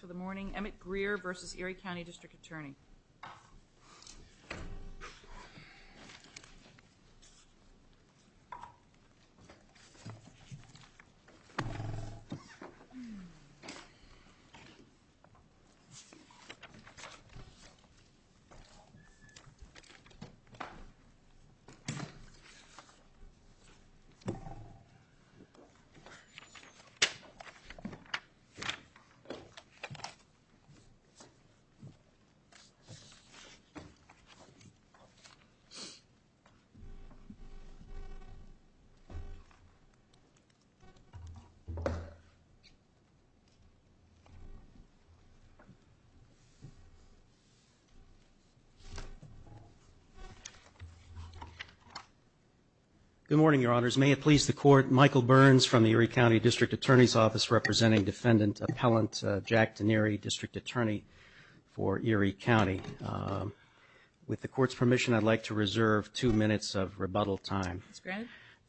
for the morning, Emmett Greer versus Erie County District Attorney. Good morning, Your Honors. May it please the Court, Michael Burns from the Erie County District Attorney's Office representing Defendant Appellant Jack Dennery, District Attorney for Erie County. With the Court's permission, I'd like to reserve two minutes of rebuttal time.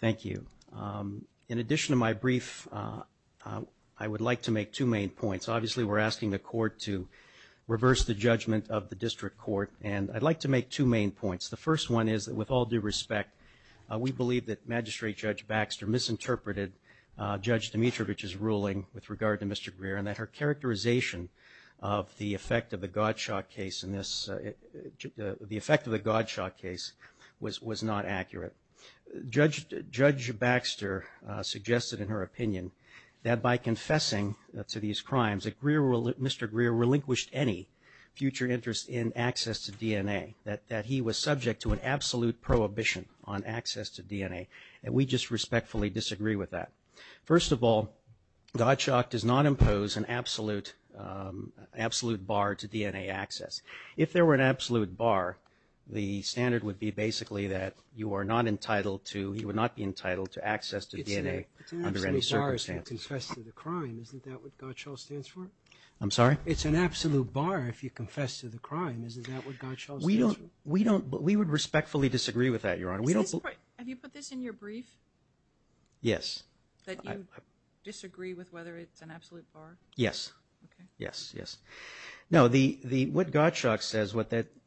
Thank you. In addition to my brief, I would like to make two main points. Obviously, we're asking the Court to reverse the judgment of the District Court, and I'd like to make two main points. The first one is that with all due respect, we believe that Magistrate Judge Baxter misinterpreted Judge Dimitrovich's ruling with regard to Mr. Greer and that her characterization of the effect of the Godshot case in this, the effect of the Godshot case was not accurate. Judge Baxter suggested in her opinion that by confessing to these crimes that Mr. Greer relinquished any future interest in access to DNA, that he was subject to an absolute prohibition on access to DNA, and we just respectfully disagree with that. First of all, Godshot does not impose an absolute bar to DNA access. If there were an absolute bar, the standard would be basically that you are not entitled to, you would not be entitled to access to DNA under any circumstance. It's an absolute bar if you confess to the crime. Isn't that what Godshot stands for? I'm sorry? It's an absolute bar if you confess to the crime. Isn't that what Godshot stands for? We don't, we would respectfully disagree with that, Your Honor. We don't. Have you put this in your brief? Yes. That you disagree with whether it's an absolute bar? Yes. Okay. Yes, yes. No, the, what Godshot says,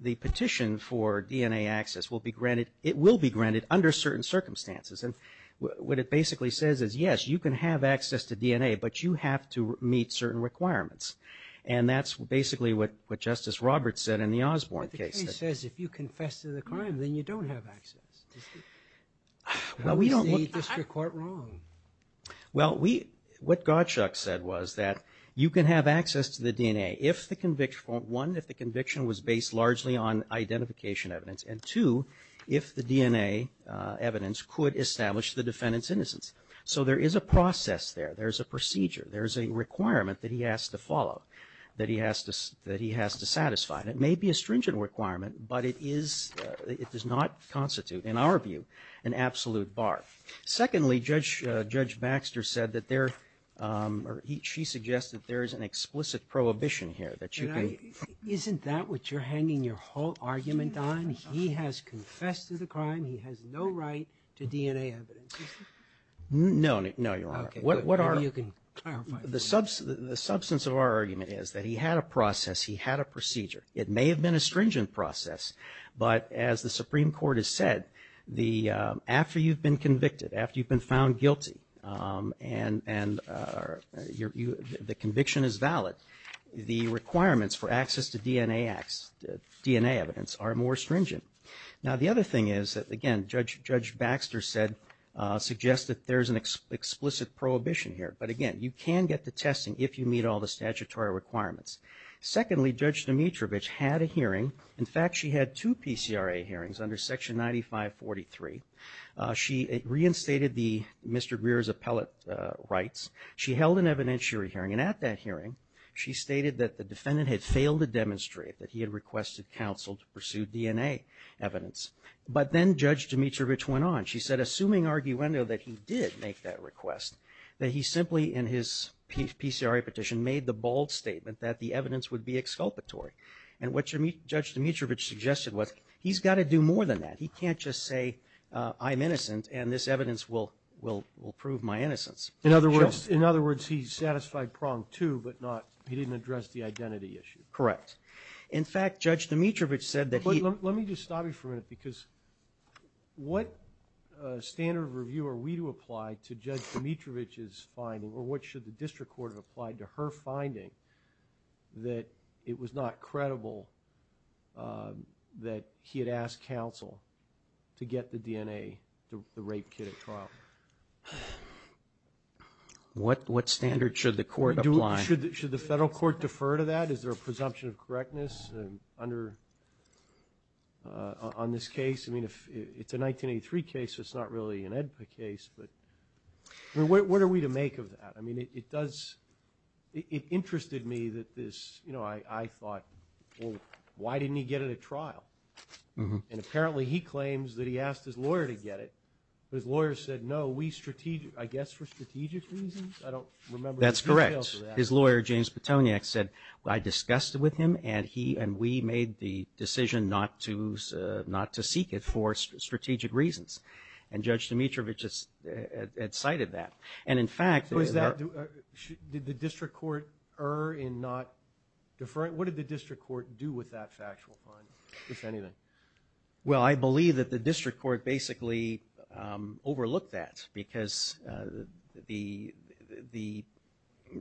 the petition for DNA access will be granted, it will be granted under certain circumstances, and what it basically says is, yes, you can have access to DNA, but you have to meet certain requirements, and that's basically what Justice Roberts said in the Osborne case. But the case says if you confess to the crime, then you don't have access. What is the district court wrong? Well, we, what Godshot said was that you can have access to the DNA if the conviction, one, if the conviction was based largely on identification evidence, and two, if the DNA evidence could establish the defendant's innocence. So there is a process there. There's a procedure. There's a requirement that he has to follow, that he has to, that he has to satisfy. It may be a stringent requirement, but it is, it does not constitute, in our view, an absolute bar. Secondly, Judge Baxter said that there, or she suggested there is an explicit prohibition here that you can. But I, isn't that what you're hanging your whole argument on? He has confessed to the crime, he has no right to DNA evidence, isn't it? No, no, Your Honor. Okay. What are. Maybe you can clarify. The substance of our argument is that he had a process, he had a procedure. It may have been a stringent process, but as the Supreme Court has said, the, after you've been convicted, after you've been found guilty, and the conviction is valid, the requirements for access to DNA evidence are more stringent. Now the other thing is that, again, Judge Baxter said, suggested there's an explicit prohibition here. But again, you can get the testing if you meet all the statutory requirements. Secondly, Judge Dimitrovich had a hearing. In fact, she had two PCRA hearings under Section 9543. She reinstated the Mr. Greer's appellate rights. She held an evidentiary hearing, and at that hearing, she stated that the defendant had failed to demonstrate that he had requested counsel to pursue DNA evidence. But then Judge Dimitrovich went on. She said, assuming arguendo that he did make that request, that he simply in his PCRA petition made the bold statement that the evidence would be exculpatory. And what Judge Dimitrovich suggested was, he's got to do more than that. He can't just say, I'm innocent, and this evidence will prove my innocence. In other words, he satisfied prong two, but he didn't address the identity issue. Correct. In fact, Judge Dimitrovich said that he... Let me just stop you for a minute, because what standard of review are we to apply to Judge Dimitrovich's finding, or what should the district court have applied to her finding that it was not credible that he had asked counsel to get the DNA, the rape kit at trial? What standard should the court apply? Should the federal court defer to that? Is there a presumption of correctness on this case? I mean, it's a 1983 case, so it's not really an EDPA case, but what are we to make of that? I mean, it interested me that this, you know, I thought, well, why didn't he get it at trial? And apparently he claims that he asked his lawyer to get it, but his lawyer said, no, we strategically, I guess for strategic reasons, I don't remember the details of that. That's correct. His lawyer, James Petoniak, said, I discussed it with him and he and we made the decision not to seek it for strategic reasons. And Judge Dimitrovich had cited that. And in fact... Was that... Did the district court err in not deferring? What did the district court do with that factual find, if anything? Well, I believe that the district court basically overlooked that because the,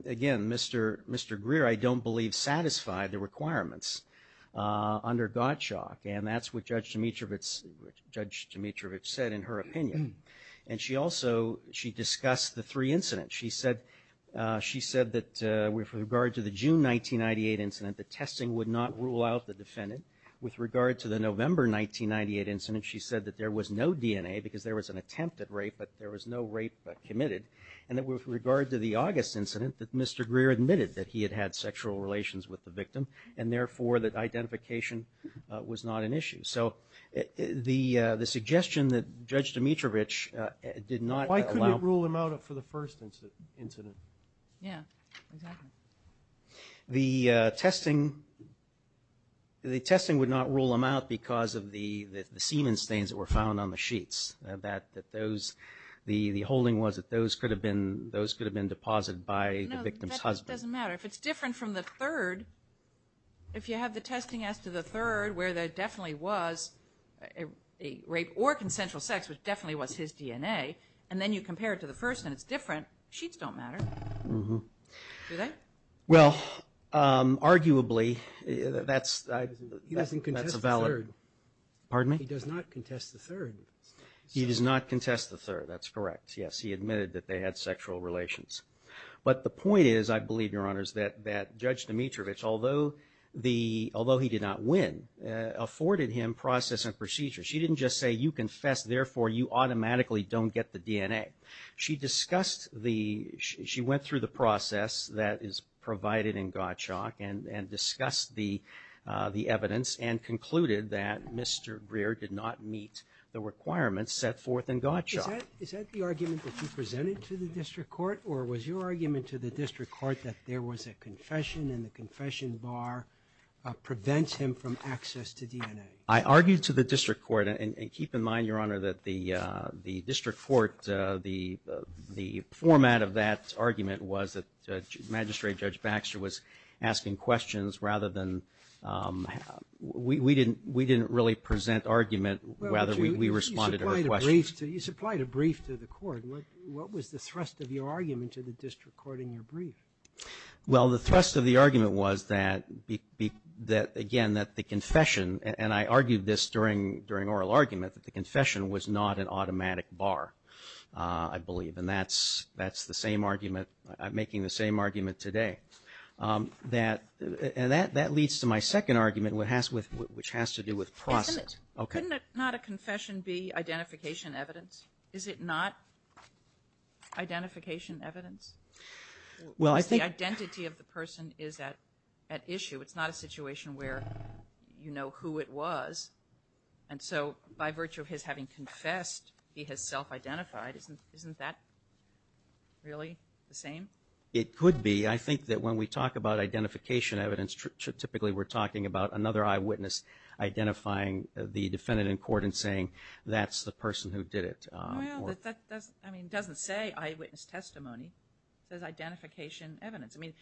again, Mr. Greer, I don't believe, satisfied the requirements under Gottschalk. And that's what Judge Dimitrovich said in her opinion. And she also, she discussed the three incidents. She said that with regard to the June 1998 incident, the testing would not rule out the November 1998 incident. She said that there was no DNA because there was an attempt at rape, but there was no rape committed. And that with regard to the August incident, that Mr. Greer admitted that he had had sexual relations with the victim and therefore that identification was not an issue. So the suggestion that Judge Dimitrovich did not allow... Why couldn't it rule him out for the first incident? Yeah, exactly. The testing, the testing would not rule him out because of the semen stains that were found on the sheets. That those, the holding was that those could have been, those could have been deposited by the victim's husband. No, that just doesn't matter. If it's different from the third, if you have the testing as to the third, where there definitely was a rape or consensual sex, which definitely was his DNA, and then you compare it to the first and it's different, sheets don't matter, do they? Well, arguably, that's a valid... He doesn't contest the third. Pardon me? He does not contest the third. He does not contest the third, that's correct, yes, he admitted that they had sexual relations. But the point is, I believe, Your Honors, that Judge Dimitrovich, although the, although he did not win, afforded him process and procedure. She didn't just say, you confess, therefore you automatically don't get the DNA. She discussed the, she went through the process that is provided in Gottschalk and, and discussed the, the evidence and concluded that Mr. Greer did not meet the requirements set forth in Gottschalk. Is that, is that the argument that you presented to the District Court or was your argument to the District Court that there was a confession and the confession bar prevents him from access to DNA? I argued to the District Court and, and keep in mind, Your Honor, that the, the District Court, the, the format of that argument was that Magistrate Judge Baxter was asking questions rather than, we, we didn't, we didn't really present argument rather we, we responded to her questions. You supplied a brief to, you supplied a brief to the court. What was the thrust of your argument to the District Court in your brief? Well, the thrust of the argument was that, that, again, that the confession, and I argued this during, during oral argument, that the confession was not an automatic bar, I believe, and that's, that's the same argument, I'm making the same argument today, that, and that, that leads to my second argument which has to do with process. Isn't it, couldn't it not a confession be identification evidence? Is it not identification evidence? Well, I think... Because the identity of the person is at, at issue, it's not a situation where you know who it was, and so by virtue of his having confessed, he has self-identified, isn't, isn't that really the same? It could be. I think that when we talk about identification evidence, typically we're talking about another eyewitness identifying the defendant in court and saying, that's the person who did it. Well, that doesn't, I mean, it doesn't say eyewitness testimony, it says identification evidence. I mean,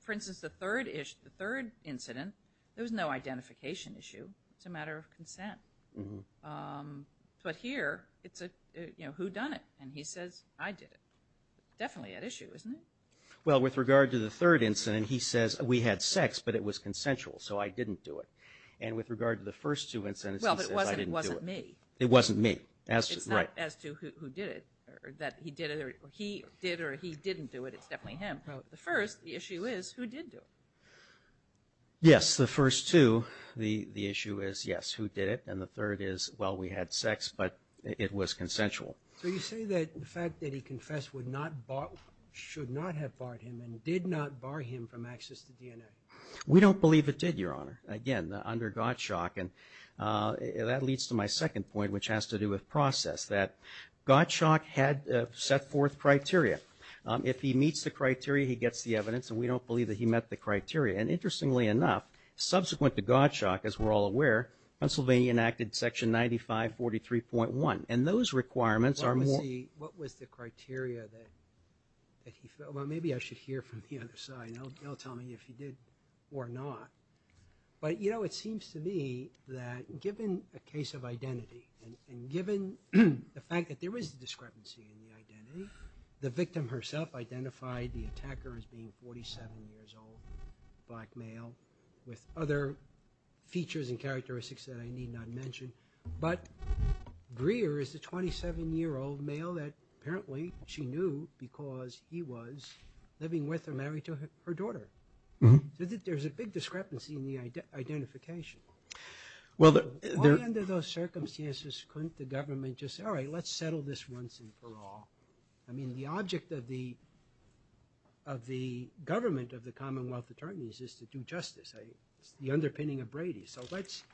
for instance, the third issue, the third incident, there was no identification issue, it's a matter of consent. But here, it's a, you know, whodunit, and he says, I did it, definitely at issue, isn't it? Well, with regard to the third incident, he says, we had sex, but it was consensual, so I didn't do it. And with regard to the first two incidents, he says, I didn't do it. Well, but it wasn't, it wasn't me. It wasn't me. Right. It's not as to who did it, or that he did it, or he did, or he didn't do it, it's definitely him. But the first, the issue is, who did do it? Yes. The first two, the issue is, yes, who did it, and the third is, well, we had sex, but it was consensual. So you say that the fact that he confessed would not, should not have barred him, and did not bar him from access to DNA? We don't believe it did, Your Honor. Again, under Gottschalk, and that leads to my second point, which has to do with process, that Gottschalk had set forth criteria. If he meets the criteria, he gets the evidence, and we don't believe that he met the criteria. And interestingly enough, subsequent to Gottschalk, as we're all aware, Pennsylvania enacted Section 9543.1, and those requirements are more. What was the criteria that he, well, maybe I should hear from the other side, and they'll tell me if he did or not. But, you know, it seems to me that given a case of identity, and given the fact that there is a discrepancy in the identity, the victim herself identified the attacker as being 47 years old, black male, with other features and characteristics that I need not mention. But Greer is a 27-year-old male that apparently she knew because he was living with or married to her daughter. So there's a big discrepancy in the identification. Under those circumstances, couldn't the government just say, all right, let's settle this once and for all? I mean, the object of the government of the Commonwealth Attorneys is to do justice, the underpinning of Brady. So let's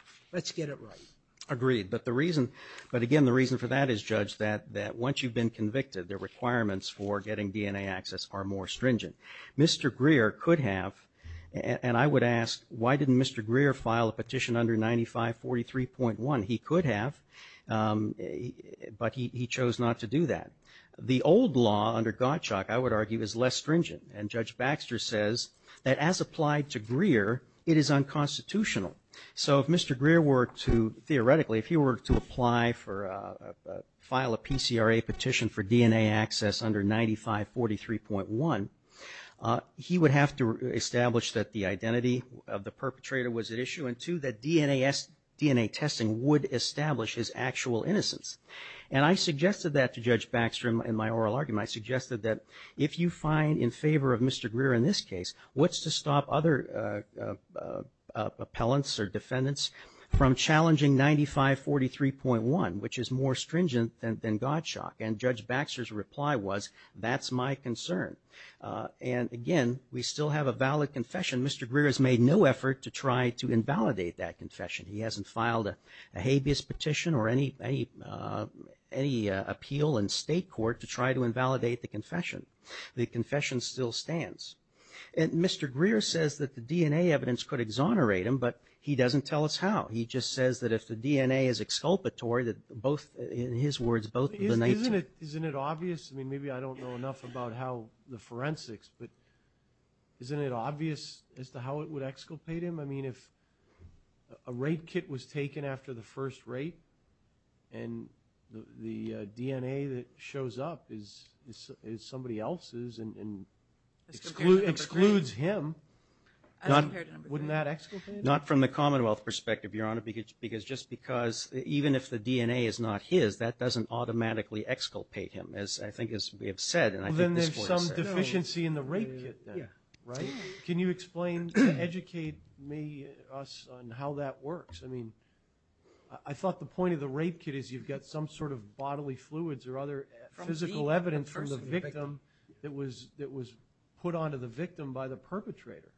get it right. Agreed. But the reason, but again, the reason for that is, Judge, that once you've been convicted, the requirements for getting DNA access are more stringent. Mr. Greer could have. And I would ask, why didn't Mr. Greer file a petition under 9543.1? He could have, but he chose not to do that. The old law under Gottschalk, I would argue, is less stringent. And Judge Baxter says that as applied to Greer, it is unconstitutional. So if Mr. Greer were to, theoretically, if he were to apply for, file a PCRA petition for DNA access under 9543.1, he would have to establish that the identity of the perpetrator was at issue, and two, that DNA testing would establish his actual innocence. And I suggested that to Judge Baxter in my oral argument. I suggested that if you find in favor of Mr. Greer in this case, what's to stop other appellants or defendants from challenging 9543.1, which is more stringent than Gottschalk? And Judge Baxter's reply was, that's my concern. And again, we still have a valid confession. Mr. Greer has made no effort to try to invalidate that confession. He hasn't filed a habeas petition or any appeal in state court to try to invalidate the confession. The confession still stands. And Mr. Greer says that the DNA evidence could exonerate him, but he doesn't tell us how. He just says that if the DNA is exculpatory, that both, in his words, both of the 19- Isn't it obvious, I mean, maybe I don't know enough about how the forensics, but isn't it obvious as to how it would exculpate him? I mean, if a rape kit was taken after the first rape, and the DNA that shows up is somebody else's and excludes him, wouldn't that exculpate him? Not from the commonwealth perspective, Your Honor, because just because, even if the DNA is not his, that doesn't automatically exculpate him, as I think as we have said, and I think this court has said. Well, then there's some deficiency in the rape kit then, right? Can you explain, educate me, us, on how that works? I mean, I thought the point of the rape kit is you've got some sort of bodily fluids or other physical evidence from the victim that was put onto the victim by the perpetrator.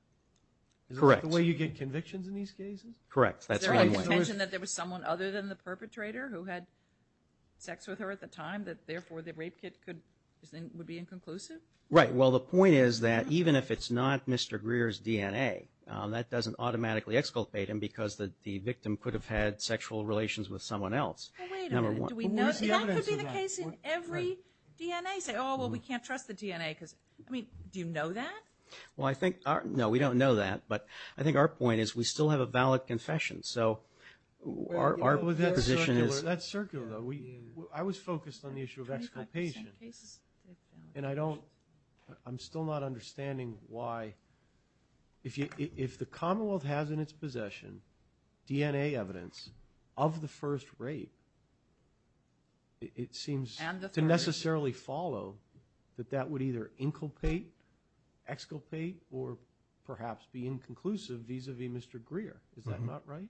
Correct. Is that the way you get convictions in these cases? Correct, that's one way. Is there any mention that there was someone other than the perpetrator who had sex with her at the time, that therefore the rape kit would be inconclusive? Right, well, the point is that even if it's not Mr. Greer's DNA, that doesn't automatically exculpate him because the victim could have had sexual relations with someone else. Well, wait a minute. Do we know- Well, where's the evidence of that? That could be the case in every DNA. Say, oh, well, we can't trust the DNA, because, I mean, do you know that? Well, I think, no, we don't know that, but I think our point is we still have a valid confession, so our position is- That's circular, though. I was focused on the issue of exculpation, and I don't, I'm still not understanding why, if the Commonwealth has in its possession DNA evidence of the first rape, it seems to necessarily follow that that would either inculpate, exculpate or perhaps be inconclusive vis-a-vis Mr. Greer. Is that not right?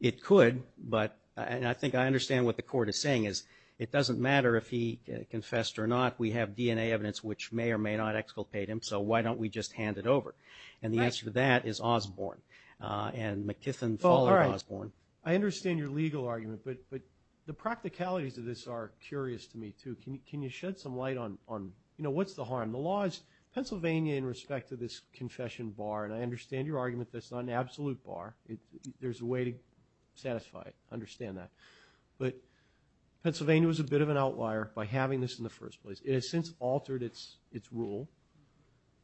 It could, but, and I think I understand what the court is saying, is it doesn't matter if he confessed or not. We have DNA evidence which may or may not exculpate him, so why don't we just hand it over? And the answer to that is Osborne, and McKithen followed Osborne. Well, all right. I understand your legal argument, but the practicalities of this are curious to me, too. Can you shed some light on, you know, what's the harm? The law is Pennsylvania in respect to this confession bar, and I understand your argument that it's not an absolute bar. There's a way to satisfy it. I understand that. But Pennsylvania was a bit of an outlier by having this in the first place. It has since altered its rule.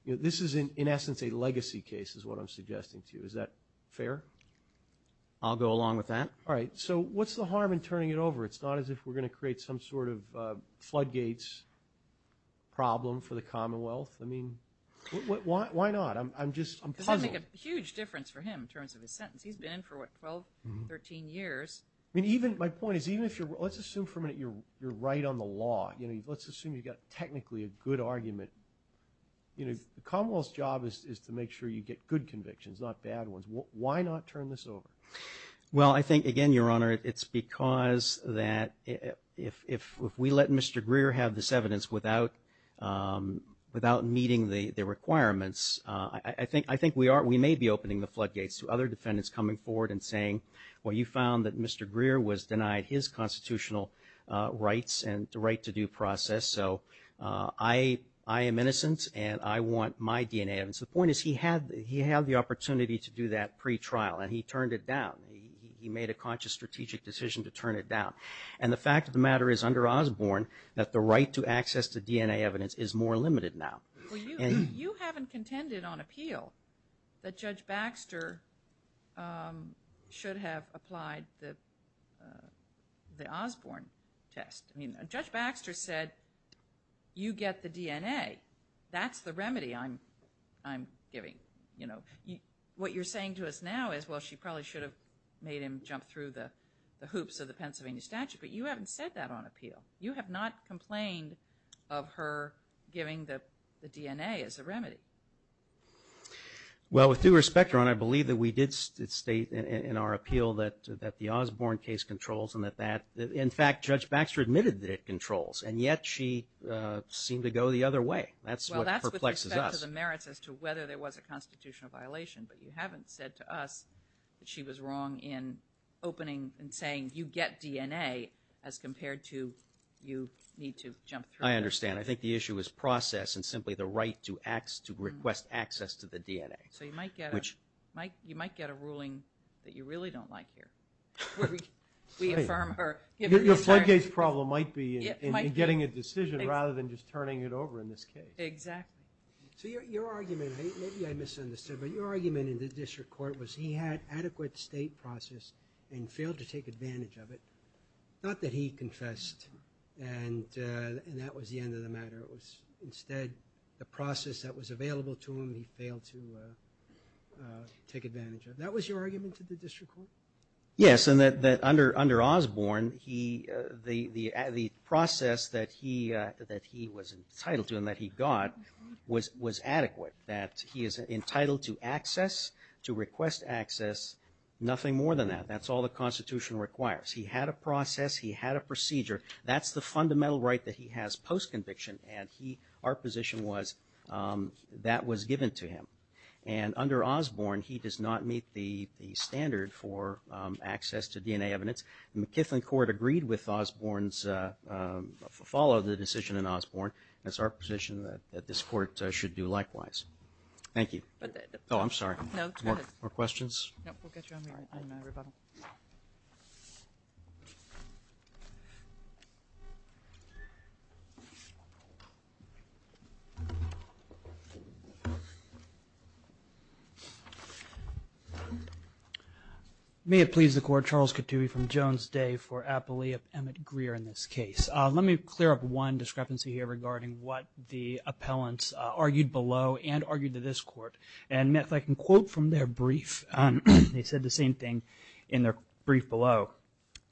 This is in essence a legacy case is what I'm suggesting to you. Is that fair? I'll go along with that. All right. So what's the harm in turning it over? It's not as if we're going to create some sort of floodgates problem for the Commonwealth. I mean, why not? I'm just puzzled. It doesn't make a huge difference for him in terms of his sentence. He's been in for, what, 12, 13 years. I mean, even, my point is, even if you're, let's assume for a minute you're right on the law. You know, let's assume you've got technically a good argument. You know, the Commonwealth's job is to make sure you get good convictions, not bad ones. Why not turn this over? Well, I think, again, Your Honor, it's because that if we let Mr. Greer have this evidence without meeting the requirements, I think we are, we may be opening the floodgates to other defendants coming forward and saying, well, you found that Mr. Greer was denied his constitutional rights and the right to due process. So I am innocent and I want my DNA evidence. The point is he had the opportunity to do that pre-trial and he turned it down. He made a conscious strategic decision to turn it down. And the fact of the matter is under Osborne that the right to access to DNA evidence is more limited now. Well, you haven't contended on appeal that Judge Baxter should have applied the Osborne test. I mean, Judge Baxter said you get the DNA. That's the remedy I'm giving. You know, what you're saying to us now is, well, she probably should have made him jump through the hoops of the Pennsylvania statute. But you haven't said that on appeal. You have not complained of her giving the DNA as a remedy. Well, with due respect, Your Honor, I believe that we did state in our appeal that the Osborne case controls and that that, in fact, Judge Baxter admitted that it controls. And yet she seemed to go the other way. That's what perplexes us. Well, that's with respect to the merits as to whether there was a constitutional violation. But you haven't said to us that she was wrong in opening and saying you get DNA as compared to you need to jump through. I understand. I think the issue is process and simply the right to request access to the DNA. So you might get a ruling that you really don't like here. Your floodgates problem might be in getting a decision rather than just turning it over in this case. Exactly. So your argument, maybe I misunderstood, but your argument in the district court was he had adequate state process and failed to take advantage of it. Not that he confessed and that was the end of the matter. It was instead the process that was available to him, he failed to take advantage of. That was your argument to the district court? Yes. And that under Osborne, the process that he was entitled to and that he got was adequate. That he is entitled to access, to request access, nothing more than that. That's all the Constitution requires. He had a process. He had a procedure. That's the fundamental right that he has post-conviction and our position was that was given to him. And under Osborne, he does not meet the standard for access to DNA evidence. The McKithlin Court agreed with Osborne's, followed the decision in Osborne. That's our position that this court should do likewise. Thank you. Oh, I'm sorry. More questions? No, we'll get you on rebuttal. May it please the Court, Charles Katubi from Jones Day for Appalachia, Emmett Greer in this case. Let me clear up one discrepancy here regarding what the appellants argued below and argued to this court. And if I can quote from their brief, they said the same thing in their brief below.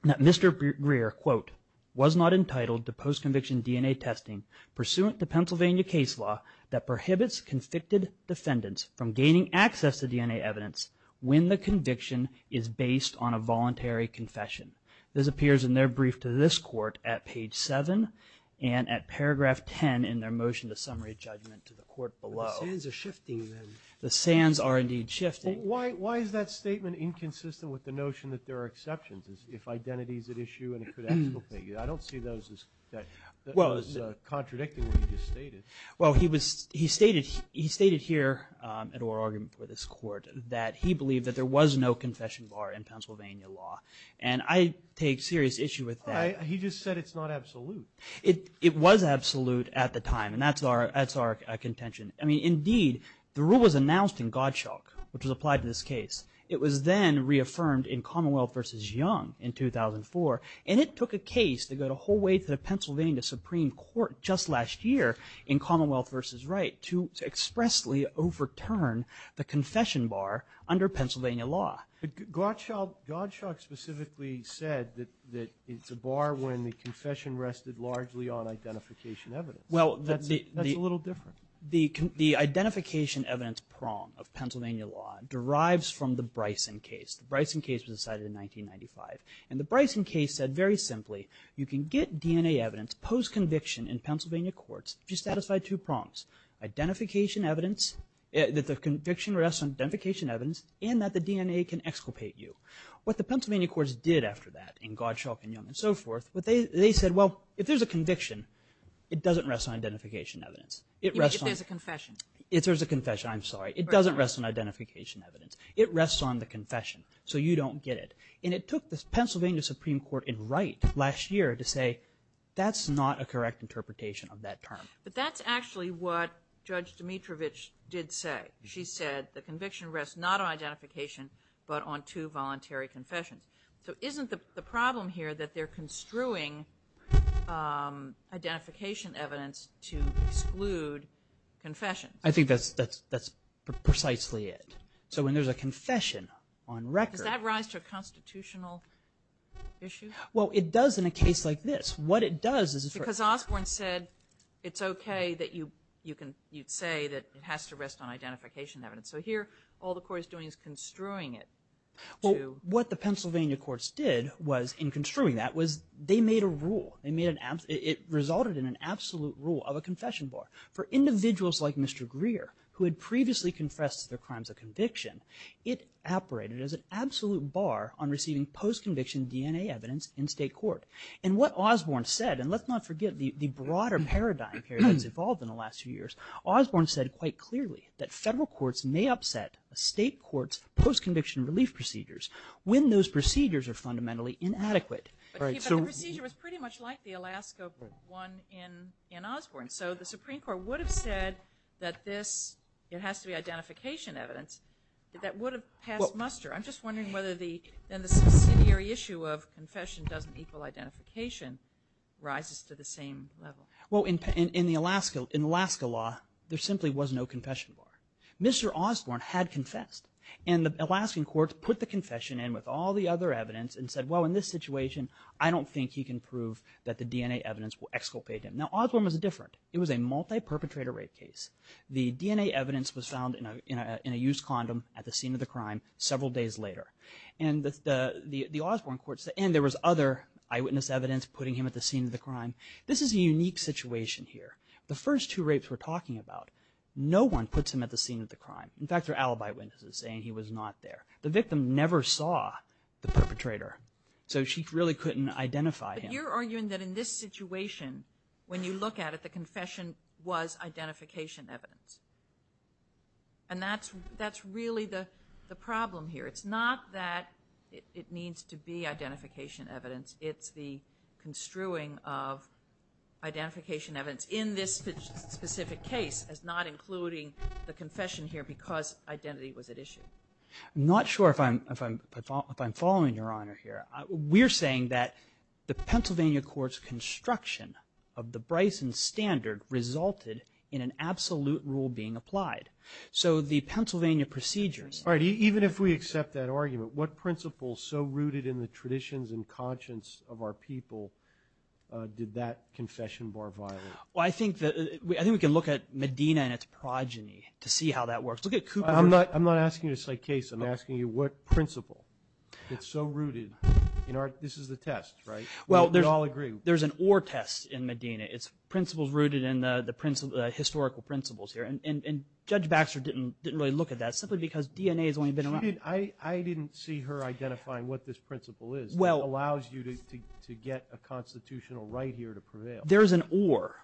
Mr. Greer, quote, was not entitled to post-conviction DNA testing pursuant to Pennsylvania case law that prohibits convicted defendants from gaining access to DNA evidence when the conviction is based on a voluntary confession. This appears in their brief to this court at page 7 and at paragraph 10 in their motion to summary judgment to the court below. The sands are shifting then. The sands are indeed shifting. Why is that statement inconsistent with the notion that there are exceptions if identity is at issue and it could exculpate you? I don't see those as contradicting what you just stated. Well, he stated here in our argument before this court that he believed that there was no confession bar in Pennsylvania law. And I take serious issue with that. He just said it's not absolute. It was absolute at the time. And that's our contention. I mean, indeed, the rule was announced in Godshock, which was applied to this case. It was then reaffirmed in Commonwealth v. Young in 2004. And it took a case to go the whole way to the Pennsylvania Supreme Court just last year in Commonwealth v. Wright to expressly overturn the confession bar under Pennsylvania law. But Godshock specifically said that it's a bar when the confession rested largely on identification evidence. That's a little different. The identification evidence prong of Pennsylvania law derives from the Bryson case. The Bryson case was decided in 1995. And the Bryson case said, very simply, you can get DNA evidence post-conviction in Pennsylvania courts if you satisfy two prongs, identification evidence, that the conviction rests on identification evidence, and that the DNA can exculpate you. What the Pennsylvania courts did after that in Godshock and Young and so forth, they said, well, if there's a conviction, it doesn't rest on identification evidence. It rests on... If there's a confession. If there's a confession, I'm sorry. It doesn't rest on identification evidence. It rests on the confession. So you don't get it. And it took the Pennsylvania Supreme Court in Wright last year to say that's not a correct interpretation of that term. But that's actually what Judge Dimitrovich did say. She said the conviction rests not on identification but on two voluntary confessions. So isn't the problem here that they're construing identification evidence to exclude confessions? I think that's precisely it. So when there's a confession on record... Does that rise to a constitutional issue? Well, it does in a case like this. What it does is... Because Osborne said it's okay that you say that it has to rest on identification evidence. So here all the court is doing is construing it. Well, what the Pennsylvania courts did was, in construing that, was they made a rule. It resulted in an absolute rule of a confession bar. For individuals like Mr. Greer, who had previously confessed to their crimes of conviction, it operated as an absolute bar on receiving post-conviction DNA evidence in state court. And what Osborne said... And let's not forget the broader paradigm here that's evolved in the last few years. Osborne said quite clearly that federal courts may upset a state court's post-conviction relief procedures when those procedures are fundamentally inadequate. But the procedure was pretty much like the Alaska one in Osborne. So the Supreme Court would have said that this... It has to be identification evidence that would have passed muster. I'm just wondering whether the subsidiary issue of confession doesn't equal identification rises to the same level. Well, in the Alaska law, there simply was no confession bar. Mr. Osborne had confessed. And the Alaskan courts put the confession in with all the other evidence and said, well, in this situation, I don't think he can prove that the DNA evidence will exculpate him. Now, Osborne was different. It was a multi-perpetrator rape case. The DNA evidence was found in a used condom at the scene of the crime several days later. And the Osborne courts... And there was other eyewitness evidence putting him at the scene of the crime. This is a unique situation here. The first two rapes we're talking about, no one puts him at the scene of the crime. In fact, there are alibi witnesses saying he was not there. The victim never saw the perpetrator. So she really couldn't identify him. So you're arguing that in this situation, when you look at it, the confession was identification evidence. And that's really the problem here. It's not that it needs to be identification evidence. It's the construing of identification evidence in this specific case as not including the confession here because identity was at issue. I'm not sure if I'm following Your Honor here. We're saying that the Pennsylvania court's construction of the Bryson standard resulted in an absolute rule being applied. So the Pennsylvania procedures... Even if we accept that argument, what principles so rooted in the traditions and conscience of our people did that confession bar violate? I think we can look at Medina and its progeny to see how that works. Look at Cooper's... I'm not asking you to cite case. I'm asking you what principle is so rooted... This is the test, right? We all agree. There's an or test in Medina. It's principles rooted in the historical principles here. And Judge Baxter didn't really look at that simply because DNA has only been around. I didn't see her identifying what this principle is. It allows you to get a constitutional right here to prevail. There's an or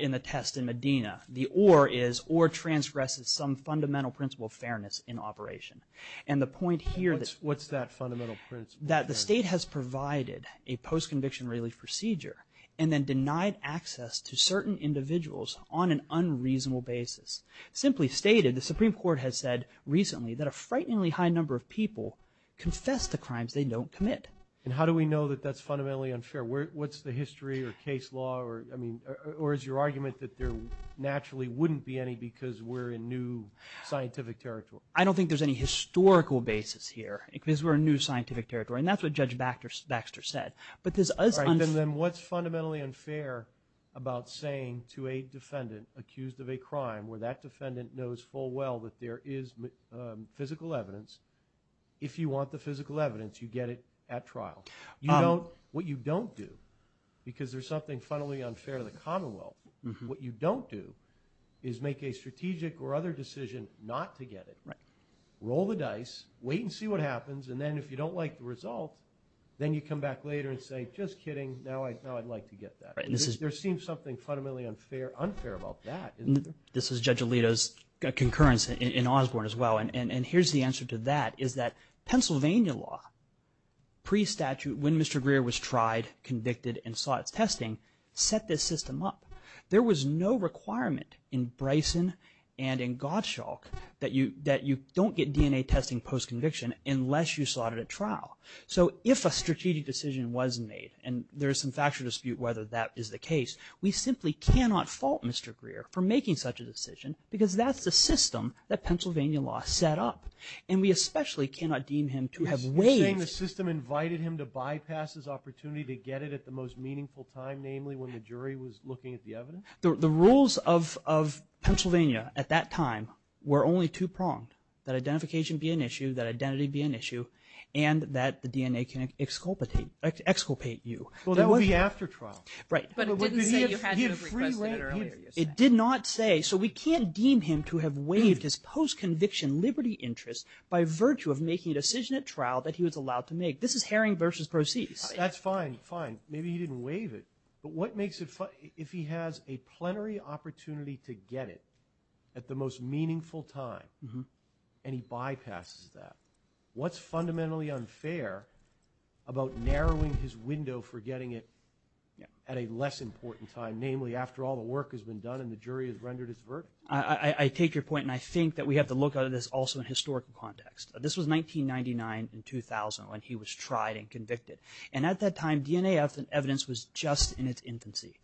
in the test in Medina. The or is or transgresses some fundamental principle of fairness in operation. And the point here... What's that fundamental principle of fairness? That the state has provided a post-conviction relief procedure and then denied access to certain individuals on an unreasonable basis. Simply stated, the Supreme Court has said recently that a frighteningly high number of people confess to crimes they don't commit. And how do we know that that's fundamentally unfair? What's the history or case law? Or is your argument that there naturally wouldn't be any because we're in new scientific territory? I don't think there's any historical basis here. Because we're in new scientific territory. And that's what Judge Baxter said. Then what's fundamentally unfair about saying to a defendant accused of a crime where that defendant knows full well that there is physical evidence? If you want the physical evidence, you get it at trial. What you don't do, because there's something fundamentally unfair to the Commonwealth, what you don't do is make a strategic or other decision not to get it. Roll the dice, wait and see what happens, and then if you don't like the result, then you come back later and say, just kidding, now I'd like to get that. There seems something fundamentally unfair about that. This is Judge Alito's concurrence in Osborne as well. And here's the answer to that. Pennsylvania law, pre-statute, when Mr. Greer was tried, convicted, and saw its testing, set this system up. There was no requirement in Bryson and in Godschalk that you don't get DNA testing post-conviction unless you saw it at trial. So if a strategic decision was made, and there's some factual dispute whether that is the case, we simply cannot fault Mr. Greer for making such a decision because that's the system that Pennsylvania law set up. And we especially cannot deem him to have waived... You're saying the system invited him to bypass his opportunity to get it at the most meaningful time, namely when the jury was looking at the evidence? The rules of Pennsylvania at that time were only two-pronged, that identification be an issue, that identity be an issue, and that the DNA can exculpate you. Well, that would be after trial. Right. But it didn't say you had to have requested it earlier, you said. It did not say. So we can't deem him to have waived his post-conviction liberty interest by virtue of making a decision at trial that he was allowed to make. This is Herring v. Proceeds. That's fine, fine. Maybe he didn't waive it. But what makes it... If he has a plenary opportunity to get it at the most meaningful time, and he bypasses that, what's fundamentally unfair about narrowing his window for getting it at a less important time, namely after all the work has been done and the jury has rendered its verdict? I take your point, and I think that we have to look at this also in historical context. This was 1999 and 2000 when he was tried and convicted. And at that time, DNA evidence was just in its infancy.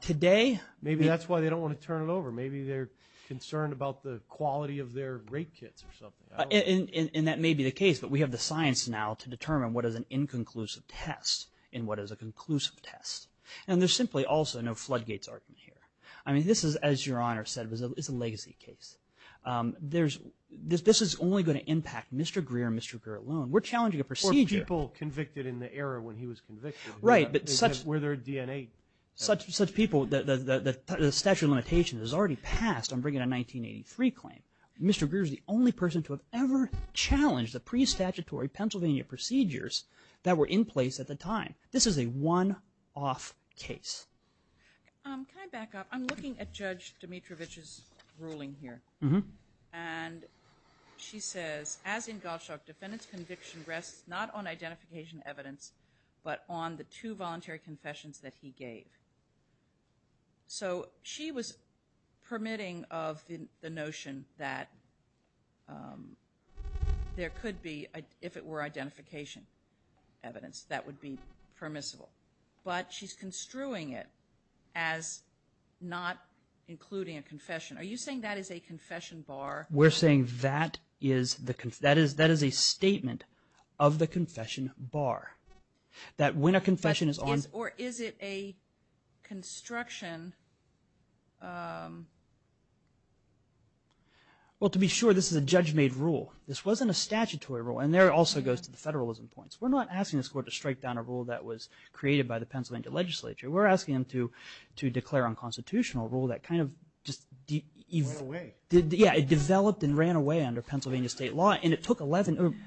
Today... Maybe that's why they don't want to turn it over. Maybe they're concerned about the quality of their rape kits or something. And that may be the case, but we have the science now to determine what is an inconclusive test and what is a conclusive test. And there's simply also no floodgates argument here. I mean, this is, as Your Honor said, it's a legacy case. There's... This is only going to impact Mr. Greer and Mr. Greer alone. We're challenging a procedure. Or people convicted in the era when he was convicted. Right, but such... Where their DNA... Such people, the statute of limitations has already passed on bringing a 1983 claim. Mr. Greer is the only person to have ever challenged the pre-statutory Pennsylvania procedures that were in place at the time. This is a one-off case. Can I back up? I'm looking at Judge Dimitrovich's ruling here. Mm-hmm. And she says, as in Galshock, defendant's conviction rests not on identification evidence but on the two voluntary confessions that he gave. So she was permitting of the notion that there could be, if it were identification evidence, that would be permissible. But she's construing it as not including a confession. Are you saying that is a confession bar? We're saying that is the... That is a statement of the confession bar. That when a confession is on... Or is it a construction... Well, to be sure, this is a judge-made rule. This wasn't a statutory rule. And there it also goes to the federalism points. We're not asking this court to strike down a rule that was created by the Pennsylvania legislature. We're asking them to declare unconstitutional rule that kind of just... Ran away. Yeah, it developed and ran away under Pennsylvania state law and it took 11...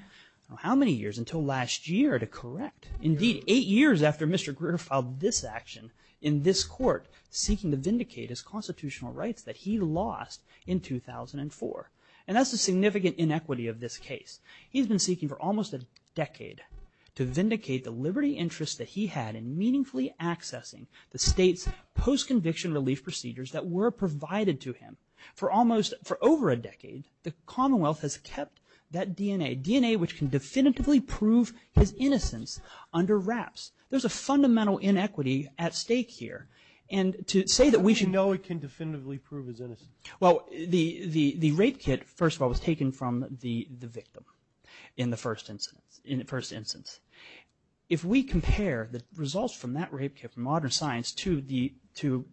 How many years until last year to correct? Indeed, eight years after Mr. Greer filed this action in this court seeking to vindicate his constitutional rights that he lost in 2004. And that's a significant inequity of this case. He's been seeking for almost a decade to vindicate the liberty interests that he had in meaningfully accessing the state's post-conviction relief procedures that were provided to him. For almost... For over a decade, the Commonwealth has kept that DNA. DNA which can definitively prove his innocence under wraps. There's a fundamental inequity at stake here. And to say that we should... How do you know it can definitively prove his innocence? Well, the rape kit, first of all, was taken from the victim in the first instance. If we compare the results from that rape kit from modern science to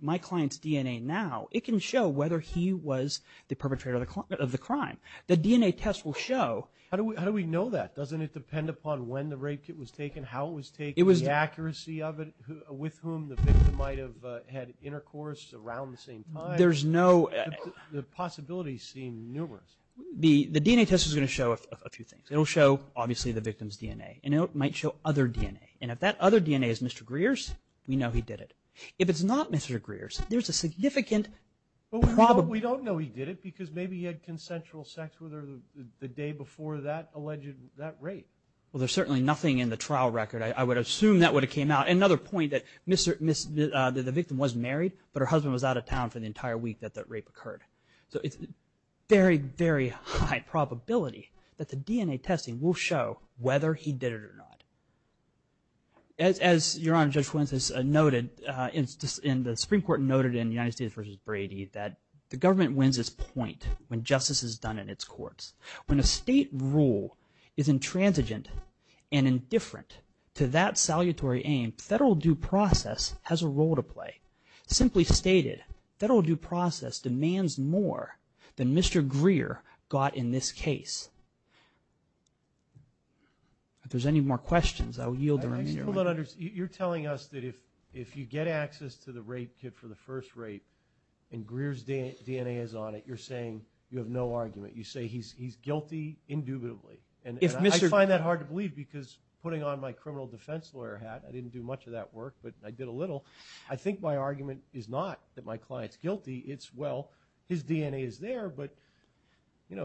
my client's DNA now, it can show whether he was the perpetrator of the crime. The DNA test will show... How do we know that? Doesn't it depend upon when the rape kit was taken, how it was taken, the accuracy of it, with whom the victim might have had intercourse around the same time? There's no... The possibilities seem numerous. The DNA test is going to show a few things. It'll show, obviously, the victim's DNA. It might show other DNA. If that other DNA is Mr. Greer's, we know he did it. If it's not Mr. Greer's, there's a significant probability... We don't know he did it because maybe he had consensual sex with her the day before that alleged... that rape. Well, there's certainly nothing in the trial record. I would assume that would have came out. Another point that the victim was married but her husband was out of town for the entire week that the rape occurred. So it's very, very high probability that the DNA testing will show whether he did it or not. As Your Honor, Judge Fuentes noted in the Supreme Court noted in United States vs. Brady that the government wins its point when justice is done in its courts. When a state rule is intransigent and indifferent to that salutary aim, federal due process has a role to play. Simply stated, federal due process demands more than Mr. Greer got in this case. If there's any more questions, I'll yield the remaining hearing. Hold on. You're telling us that if you get access to the rape kit for the first rape and Greer's DNA is on it, you're saying you have no argument. You say he's guilty indubitably. And I find that hard to believe because putting on my criminal defense lawyer hat, I didn't do much of that work but I did a little. I think my argument is not that my client's guilty. It's well, his DNA is there but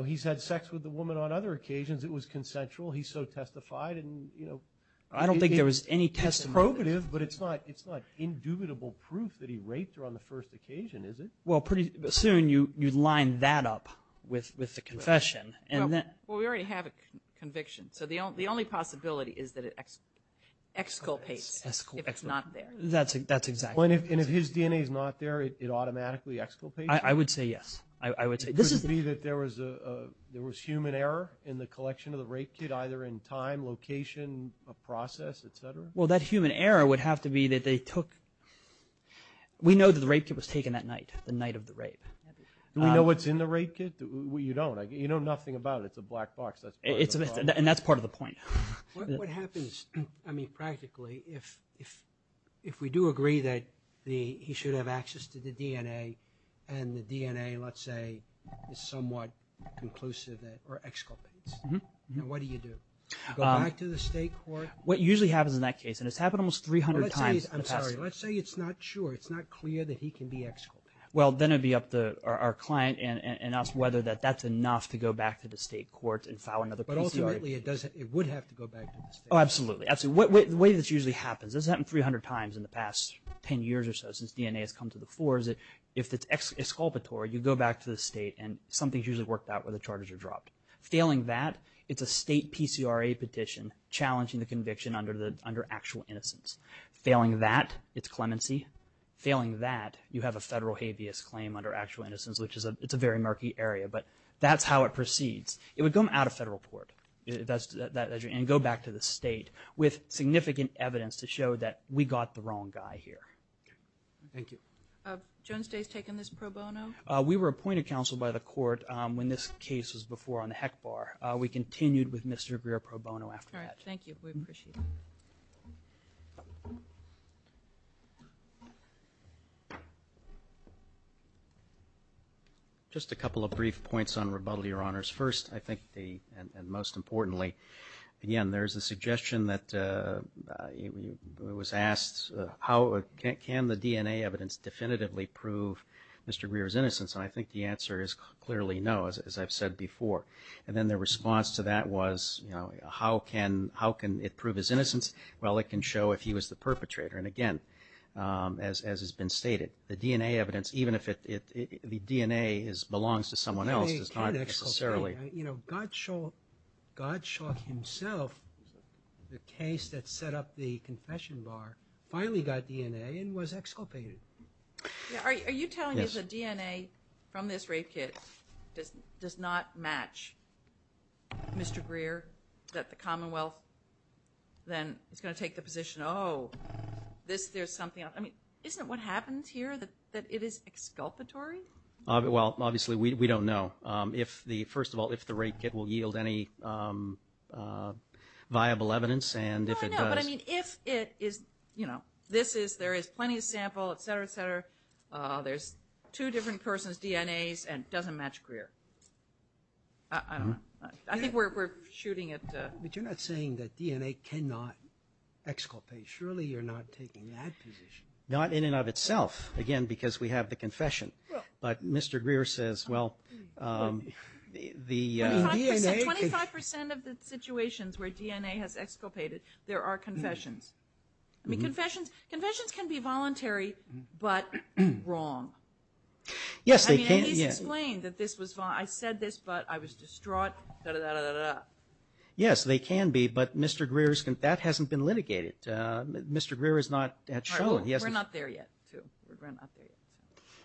he's had sex with the woman on other occasions. It was consensual. He so testified. I don't think there was any testimony. But it's not indubitable proof that he raped her on the first occasion, is it? Well, pretty soon you line that up with the confession. Well, we already have a conviction so the only possibility is that it is not there. That's exactly it. And if his DNA is not there it automatically exculpates him? I would say yes. Could it be that there was human error in the collection of the rape kit either in time, location, process, et cetera? Well, that human error would have to be that they took we know that the rape kit was taken that night, the night of the rape. Do we know what's in the rape kit? You don't. You know nothing about it. It's a black box. And that's part of the point. What happens practically if we do agree that he should have access to the DNA and the DNA let's say is somewhat conclusive or exculpates? What do you do? Go back to the state court? What usually happens in that case and it's happened almost 300 times in the past. Let's say it's not clear that he can be exculpated. Well, then it would be up to our client and us whether that's enough to go back to the state court and file another PCRA petition. But ultimately it would have to go back to the state. Oh, absolutely. Absolutely. The way this usually happens, this has happened 300 times in the past 10 years or so since DNA has come to the fore is that if it's exculpatory you go back to the state and something is usually worked out where the charges are dropped. Failing that it's a state PCRA petition challenging the conviction under actual innocence. Failing that it's clemency. Failing that you have a federal habeas claim under actual innocence which is a very murky area but that's how it proceeds. It would go out of federal court and go back to the state with significant evidence to show that we got the wrong guy here. Thank you. Jones Day has taken this pro bono? We were appointed counsel by the court when this case was before on the HEC bar. We continued with Mr. Greer pro bono after that. Thank you. We appreciate it. Just a couple of brief points on rebuttal Your Honors. First I think the and most importantly again there's a suggestion that it was asked how can the DNA evidence definitively prove Mr. Greer's innocence? I think the answer is clearly no as I've said before. And then the response to that was how can it prove his innocence? Well it can show if he was the perpetrator. And again as has been stated the DNA evidence even if the DNA belongs to someone else does not necessarily God himself the case that set up the confession bar finally got DNA and was exculpated. Are you telling me the DNA from this rape kit does not match Mr. Greer that the Commonwealth then is going to take the position oh this there's something I mean isn't what happens here that it is exculpatory? Well obviously we don't know. If the first of all if the rape kit will yield any viable evidence and if it does No I know but I mean if it is you know this is there is plenty of sample et cetera et cetera there's two results can be released because we have to confession but the DNA if the DNA There are confessions confessions can be voluntary but wrong These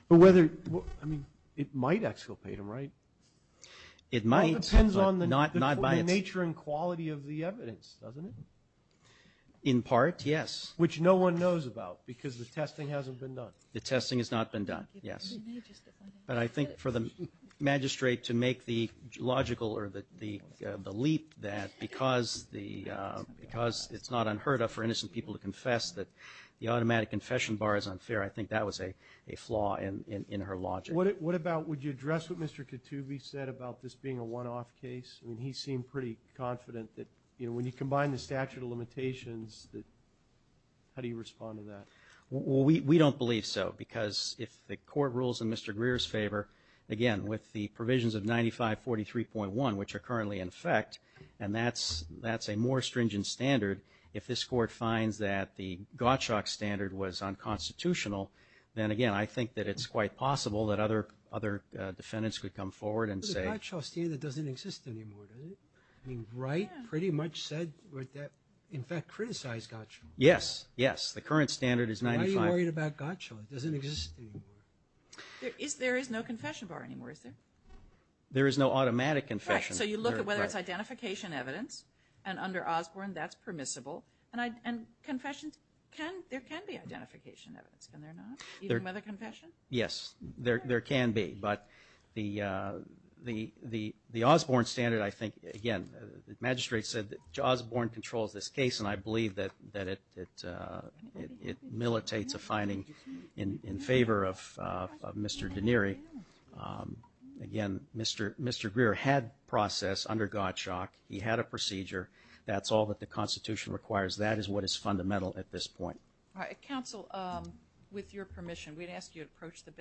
But whether I mean it might exculpate him, right? It might It depends on the nature and quality of the evidence, doesn't it? In part, yes. Which no one knows about because the testing hasn't been done. The testing has not been done, yes. But I think for the magistrate to make the logical or the leap that because the because it's not unheard of for innocent people to confess that the automatic confession bar is a flaw in her logic. What about would you address what Mr. Katoubi said about this being a one-off case? He seemed pretty confident that when you combine the statute of limitations how do you respond to that? We don't believe so because if the court rules in Mr. Greer's favor again with the provisions of 9543.1 which are currently in effect and that's a more stringent standard if this court finds that the Gottschalk standard was unconstitutional then again I think that it's quite possible that other defendants could come forward and say The Gottschalk standard doesn't exist anymore does it? Wright pretty much said in fact criticized Gottschalk. Yes, yes. The current standard is 95. Why are you worried about Gottschalk? It doesn't exist anymore. There is no confession bar anymore is there? There is no automatic confession. So you look at whether it's identification evidence and under Osborne that's permissible and confessions there can be identification evidence can there not? Even with a confession? Yes, there can be but the Osborne standard I think again the magistrate said Osborne controls this case and I believe that it militates a finding in favor of Mr. Deneary. Again Mr. Greer had processed under Gottschalk he had a procedure that's all that the Constitution requires that is what is fundamental at this point. All right counsel with your permission we'd ask you to approach the Thank you.